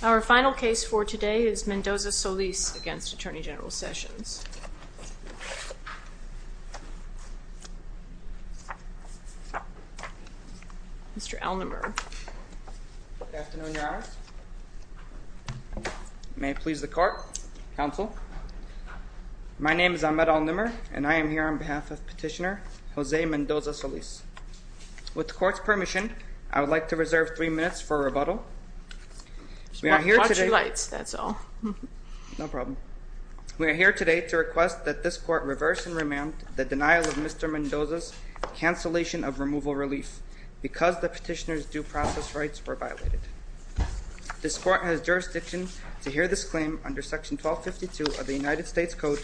Our final case for today is Mendoza-Solis v. Attorney General Sessions. Mr. Alnimer. Good afternoon, Your Honors. May it please the Court, Counsel. My name is Ahmed Alnimer, and I am here on behalf of Petitioner Jose Mendoza-Solis. With the Court's permission, I would like to reserve three minutes for rebuttal. We are here today to request that this Court reverse and remand the denial of Mr. Mendoza's cancellation of removal relief because the Petitioner's due process rights were violated. This Court has jurisdiction to hear this claim under Section 1252 of the United States Code,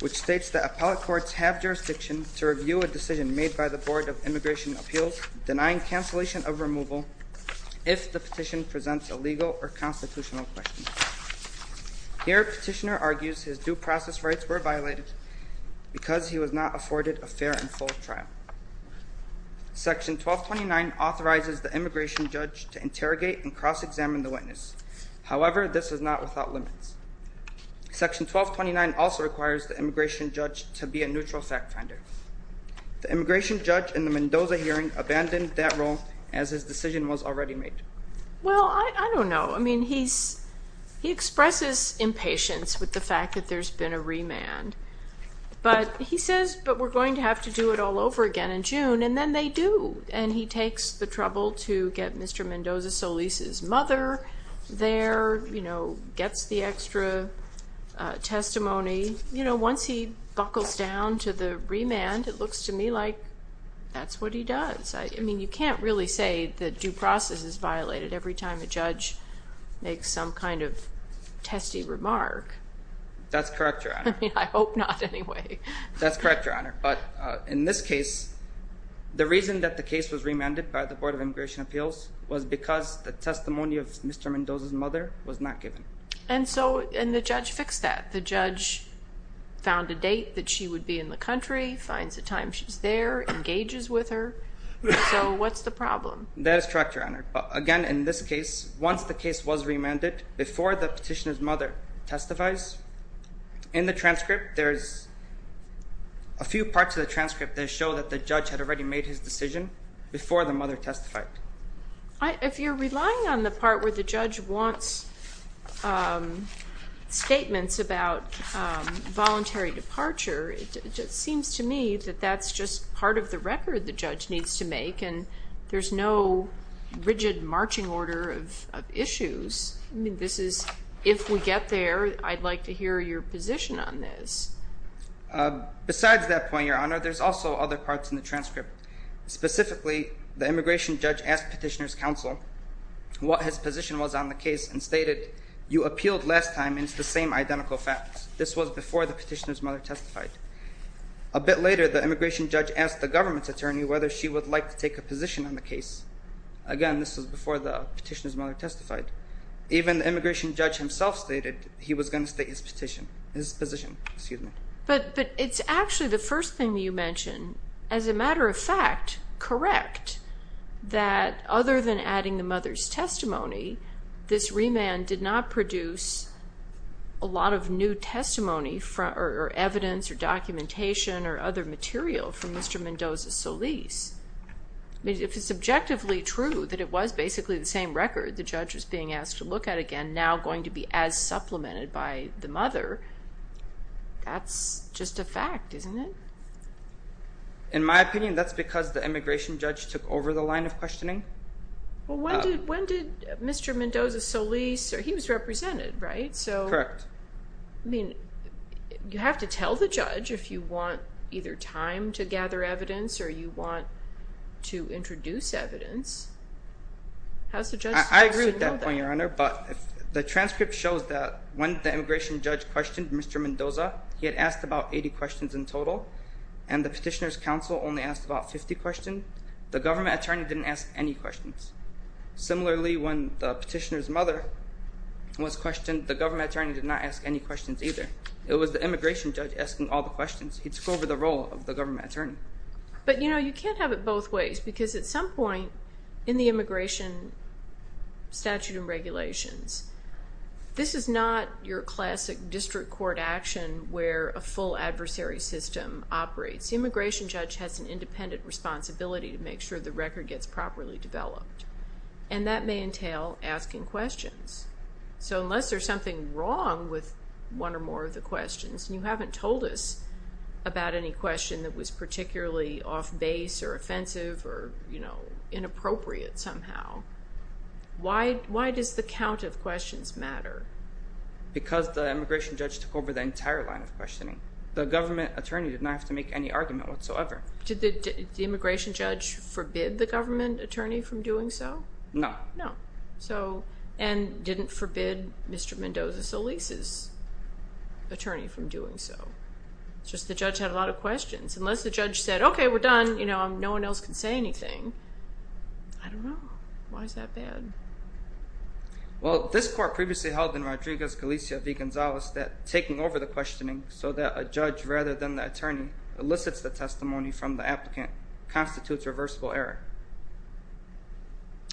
which states that appellate courts have jurisdiction to review a decision made by the Board of Immigration Appeals denying cancellation of removal if the Petition presents a legal or constitutional question. Here, Petitioner argues his due process rights were violated because he was not afforded a fair and full trial. Section 1229 authorizes the immigration judge to interrogate and cross-examine the witness. However, this is not without limits. Section 1229 also requires the immigration judge to be a neutral fact-finder. The immigration judge in the Mendoza hearing abandoned that role as his decision was already made. Well, I don't know. I mean, he expresses impatience with the fact that there's been a remand. But he says, but we're going to have to do it all over again in June, and then they do. And he takes the trouble to get Mr. Mendoza Solis' mother there, you know, gets the extra testimony. You know, once he buckles down to the remand, it looks to me like that's what he does. I mean, you can't really say the due process is violated every time a judge makes some kind of testy remark. That's correct, Your Honor. I mean, I hope not anyway. That's correct, Your Honor. But in this case, the reason that the case was remanded by the Board of Immigration Appeals was because the testimony of Mr. Mendoza's mother was not given. And so, and the judge fixed that. The judge found a date that she would be in the country, finds the time she's there, engages with her. So what's the problem? That is correct, Your Honor. Again, in this case, once the case was remanded, before the petitioner's mother testifies, in the transcript, there's a few parts of the transcript that show that the judge had already made his decision before the mother testified. If you're relying on the part where the judge wants statements about voluntary departure, it seems to me that that's just part of the record the judge needs to make, and there's no rigid marching order of issues. I mean, this is, if we get there, I'd like to hear your position on this. Besides that point, Your Honor, there's also other parts in the transcript. Specifically, the immigration judge asked Petitioner's Counsel what his position was on the case and stated, you appealed last time, and it's the same identical facts. This was before the petitioner's mother testified. A bit later, the immigration judge asked the government's attorney whether she would like to take a position on the case. Again, this was before the petitioner's mother testified. Even the immigration judge himself stated he was going to state his position. But it's actually the first thing you mentioned. As a matter of fact, correct, that other than adding the mother's testimony, this remand did not produce a lot of new testimony or evidence or documentation or other material from Mr. Mendoza-Solis. If it's objectively true that it was basically the same record the judge was being asked to look at again, and now going to be as supplemented by the mother, that's just a fact, isn't it? In my opinion, that's because the immigration judge took over the line of questioning. When did Mr. Mendoza-Solis, he was represented, right? Correct. You have to tell the judge if you want either time to gather evidence or you want to introduce evidence. I agree with that point, Your Honor, but the transcript shows that when the immigration judge questioned Mr. Mendoza, he had asked about 80 questions in total, and the petitioner's counsel only asked about 50 questions. The government attorney didn't ask any questions. Similarly, when the petitioner's mother was questioned, the government attorney did not ask any questions either. It was the immigration judge asking all the questions. He took over the role of the government attorney. But, you know, you can't have it both ways because at some point in the immigration statute and regulations, this is not your classic district court action where a full adversary system operates. The immigration judge has an independent responsibility to make sure the record gets properly developed, and that may entail asking questions. So unless there's something wrong with one or more of the questions, and you haven't told us about any question that was particularly off-base or offensive or, you know, inappropriate somehow, why does the count of questions matter? Because the immigration judge took over the entire line of questioning. The government attorney did not have to make any argument whatsoever. Did the immigration judge forbid the government attorney from doing so? No. No. And didn't forbid Mr. Mendoza Solis' attorney from doing so. It's just the judge had a lot of questions. Unless the judge said, okay, we're done, you know, no one else can say anything, I don't know. Why is that bad? Well, this court previously held in Rodriguez-Galicia v. Gonzalez that taking over the questioning so that a judge rather than the attorney elicits the testimony from the applicant constitutes reversible error.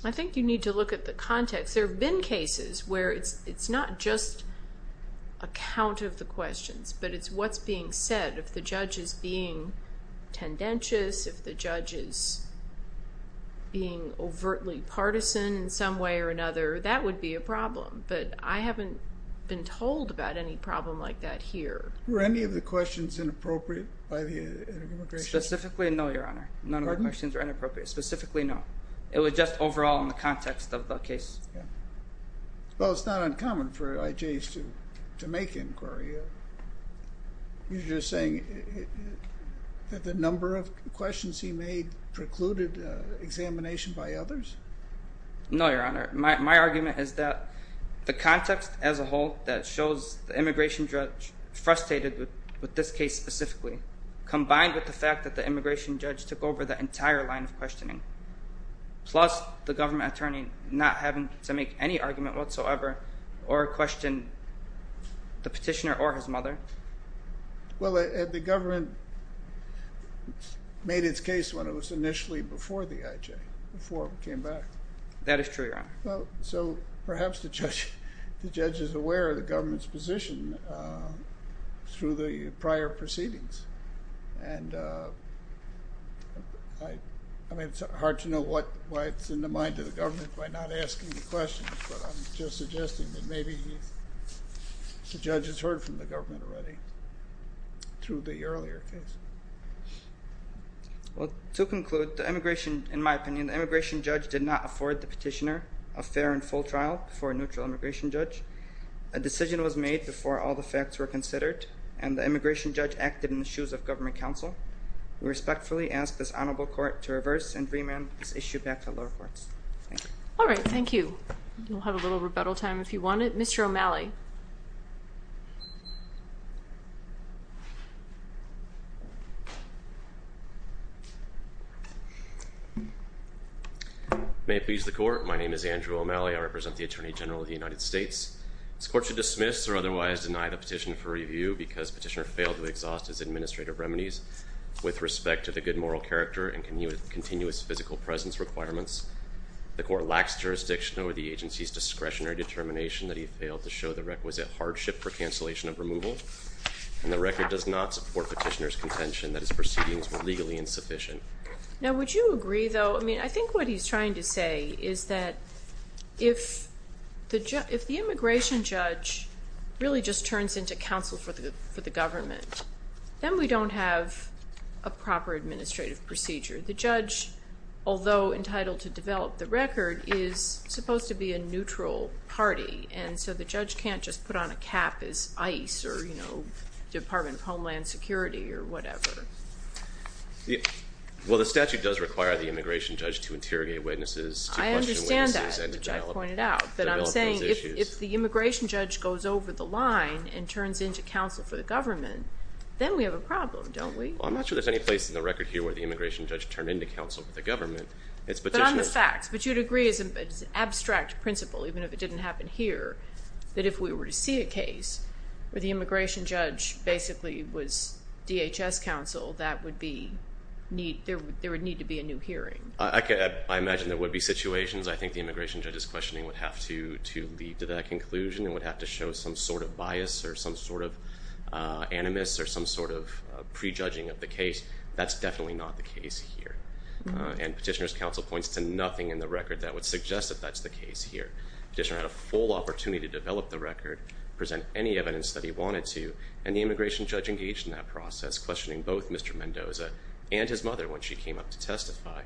I think you need to look at the context. There have been cases where it's not just a count of the questions, but it's what's being said. If the judge is being tendentious, if the judge is being overtly partisan in some way or another, that would be a problem. But I haven't been told about any problem like that here. Were any of the questions inappropriate by the immigration judge? Specifically, no, Your Honor. None of the questions were inappropriate. Specifically, no. It was just overall in the context of the case. Well, it's not uncommon for IJs to make inquiry. You're just saying that the number of questions he made precluded examination by others? No, Your Honor. My argument is that the context as a whole that shows the immigration judge frustrated with this case specifically combined with the fact that the immigration judge took over the entire line of questioning, plus the government attorney not having to make any argument whatsoever or question the petitioner or his mother. Well, the government made its case when it was initially before the IJ, before it came back. That is true, Your Honor. So perhaps the judge is aware of the government's position through the prior proceedings. And I mean, it's hard to know what's in the mind of the government by not asking the questions, but I'm just suggesting that maybe the judge has heard from the government already through the earlier case. Well, to conclude, in my opinion, the immigration judge did not afford the petitioner a fair and full trial before a neutral immigration judge. A decision was made before all the facts were considered, and the immigration judge acted in the shoes of government counsel. We respectfully ask this honorable court to reverse and remand this issue back to the lower courts. Thank you. All right, thank you. We'll have a little rebuttal time if you want it. Mr. O'Malley. May it please the court, my name is Andrew O'Malley. I represent the Attorney General of the United States. This court should dismiss or otherwise deny the petition for review because petitioner failed to exhaust his administrative remedies with respect to the good moral character and continuous physical presence requirements. The court lacks jurisdiction over the agency's discretionary determination that he failed to show the requisite hardship for cancellation of removal, and the record does not support petitioner's contention that his proceedings were legally insufficient. Now, would you agree, though, I mean, I think what he's trying to say is that if the immigration judge really just turns into counsel for the government, then we don't have a proper administrative procedure. The judge, although entitled to develop the record, is supposed to be a neutral party, and so the judge can't just put on a cap as ICE or Department of Homeland Security or whatever. Well, the statute does require the immigration judge to interrogate witnesses, to question witnesses, and to develop those issues. I understand that, which I pointed out. But I'm saying if the immigration judge goes over the line and turns into counsel for the government, then we have a problem, don't we? Well, I'm not sure there's any place in the record here where the immigration judge turned into counsel for the government. But on the facts, but you'd agree as an abstract principle, even if it didn't happen here, that if we were to see a case where the immigration judge basically was DHS counsel, that there would need to be a new hearing. I imagine there would be situations I think the immigration judge's questioning would have to lead to that conclusion and would have to show some sort of bias or some sort of animus or some sort of prejudging of the case. That's definitely not the case here. And Petitioner's counsel points to nothing in the record that would suggest that that's the case here. Petitioner had a full opportunity to develop the record, present any evidence that he wanted to, and the immigration judge engaged in that process, questioning both Mr. Mendoza and his mother when she came up to testify.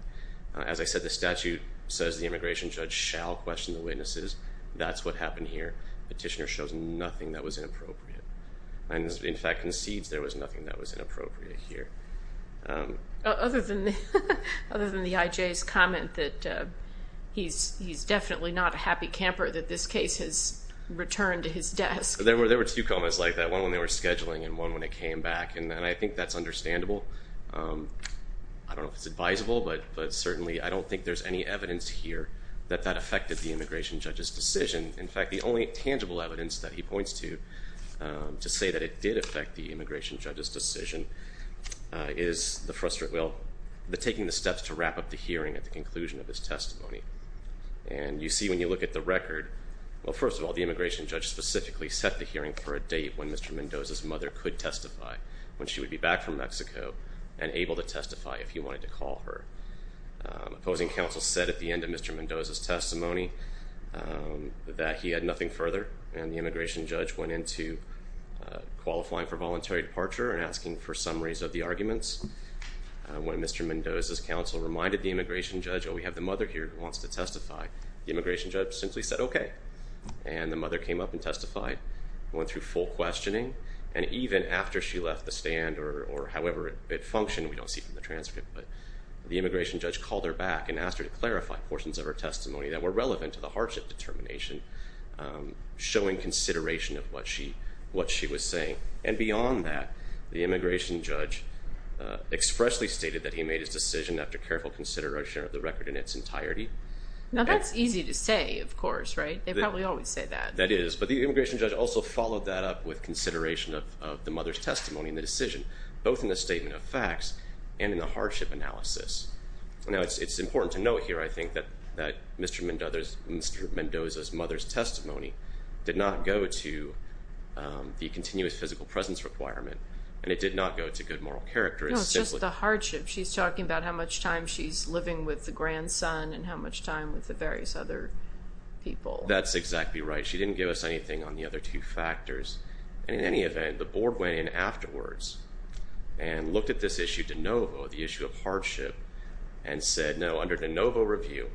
As I said, the statute says the immigration judge shall question the witnesses. That's what happened here. Petitioner shows nothing that was inappropriate. And, in fact, concedes there was nothing that was inappropriate here. Other than the IJ's comment that he's definitely not a happy camper that this case has returned to his desk. There were two comments like that, one when they were scheduling and one when it came back, and I think that's understandable. I don't know if it's advisable, but certainly I don't think there's any evidence here that that affected the immigration judge's decision. In fact, the only tangible evidence that he points to to say that it did affect the immigration judge's decision is the taking the steps to wrap up the hearing at the conclusion of his testimony. And you see when you look at the record, well, first of all, the immigration judge specifically set the hearing for a date when Mr. Mendoza's mother could testify, when she would be back from Mexico and able to testify if he wanted to call her. Opposing counsel said at the end of Mr. Mendoza's testimony that he had nothing further, and the immigration judge went into qualifying for voluntary departure and asking for summaries of the arguments. When Mr. Mendoza's counsel reminded the immigration judge, oh, we have the mother here who wants to testify, the immigration judge simply said, okay. And the mother came up and testified, went through full questioning, and even after she left the stand or however it functioned, we don't see it in the transcript, but the immigration judge called her back and asked her to clarify portions of her testimony that were relevant to the hardship determination, showing consideration of what she was saying. And beyond that, the immigration judge expressly stated that he made his decision after careful consideration of the record in its entirety. Now, that's easy to say, of course, right? They probably always say that. That is, but the immigration judge also followed that up with consideration of the mother's testimony and the decision, both in the statement of facts and in the hardship analysis. Now, it's important to note here, I think, that Mr. Mendoza's mother's testimony did not go to the continuous physical presence requirement, and it did not go to good moral character. No, it's just the hardship. She's talking about how much time she's living with the grandson and how much time with the various other people. That's exactly right. She didn't give us anything on the other two factors. And in any event, the board went in afterwards and looked at this issue de novo, the issue of hardship, and said, no, under de novo review,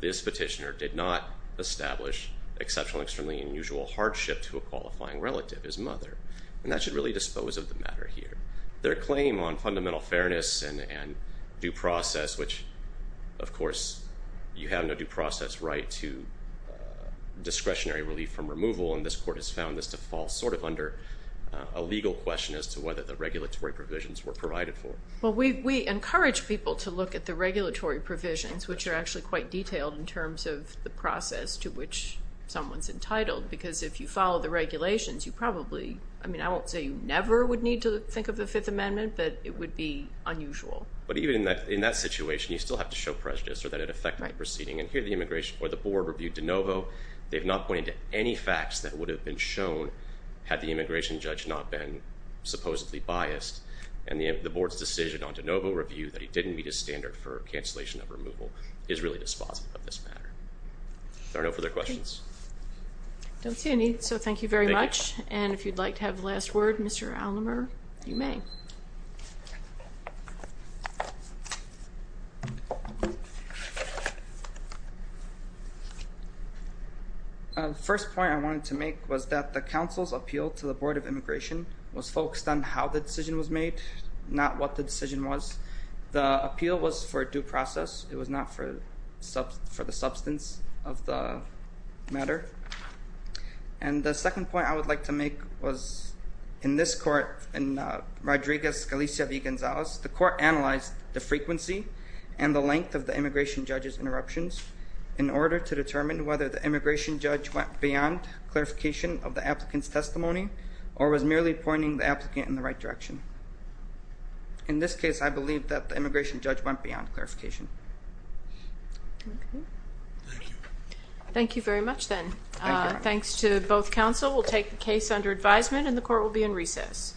this petitioner did not establish exceptional and extremely unusual hardship to a qualifying relative, his mother. And that should really dispose of the matter here. Their claim on fundamental fairness and due process, which, of course, you have no due process right to discretionary relief from removal, and this court has found this to fall sort of under a legal question as to whether the regulatory provisions were provided for. Well, we encourage people to look at the regulatory provisions, which are actually quite detailed in terms of the process to which someone's entitled, because if you follow the regulations, you probably, I mean, I won't say you never would need to think of the Fifth Amendment, but it would be unusual. But even in that situation, you still have to show prejudice or that it affected the proceeding. And here the board reviewed de novo. They have not pointed to any facts that would have been shown had the immigration judge not been supposedly biased. And the board's decision on de novo review that it didn't meet a standard for cancellation of removal is really dispositive of this matter. Are there no further questions? I don't see any, so thank you very much. Thank you. And if you'd like to have the last word, Mr. Alnemer, you may. The first point I wanted to make was that the council's appeal to the Board of Immigration was focused on how the decision was made, not what the decision was. The appeal was for due process. It was not for the substance of the matter. And the second point I would like to make was in this court, in Rodriguez-Galicia v. Gonzalez, the court analyzed the frequency and the length of the immigration judge's interruptions in order to determine whether the immigration judge went beyond clarification of the applicant's testimony or was merely pointing the applicant in the right direction. In this case, I believe that the immigration judge went beyond clarification. Thank you. Thank you very much, then. Thank you. Thanks to both counsel. We'll take the case under advisement, and the court will be in recess. Thank you.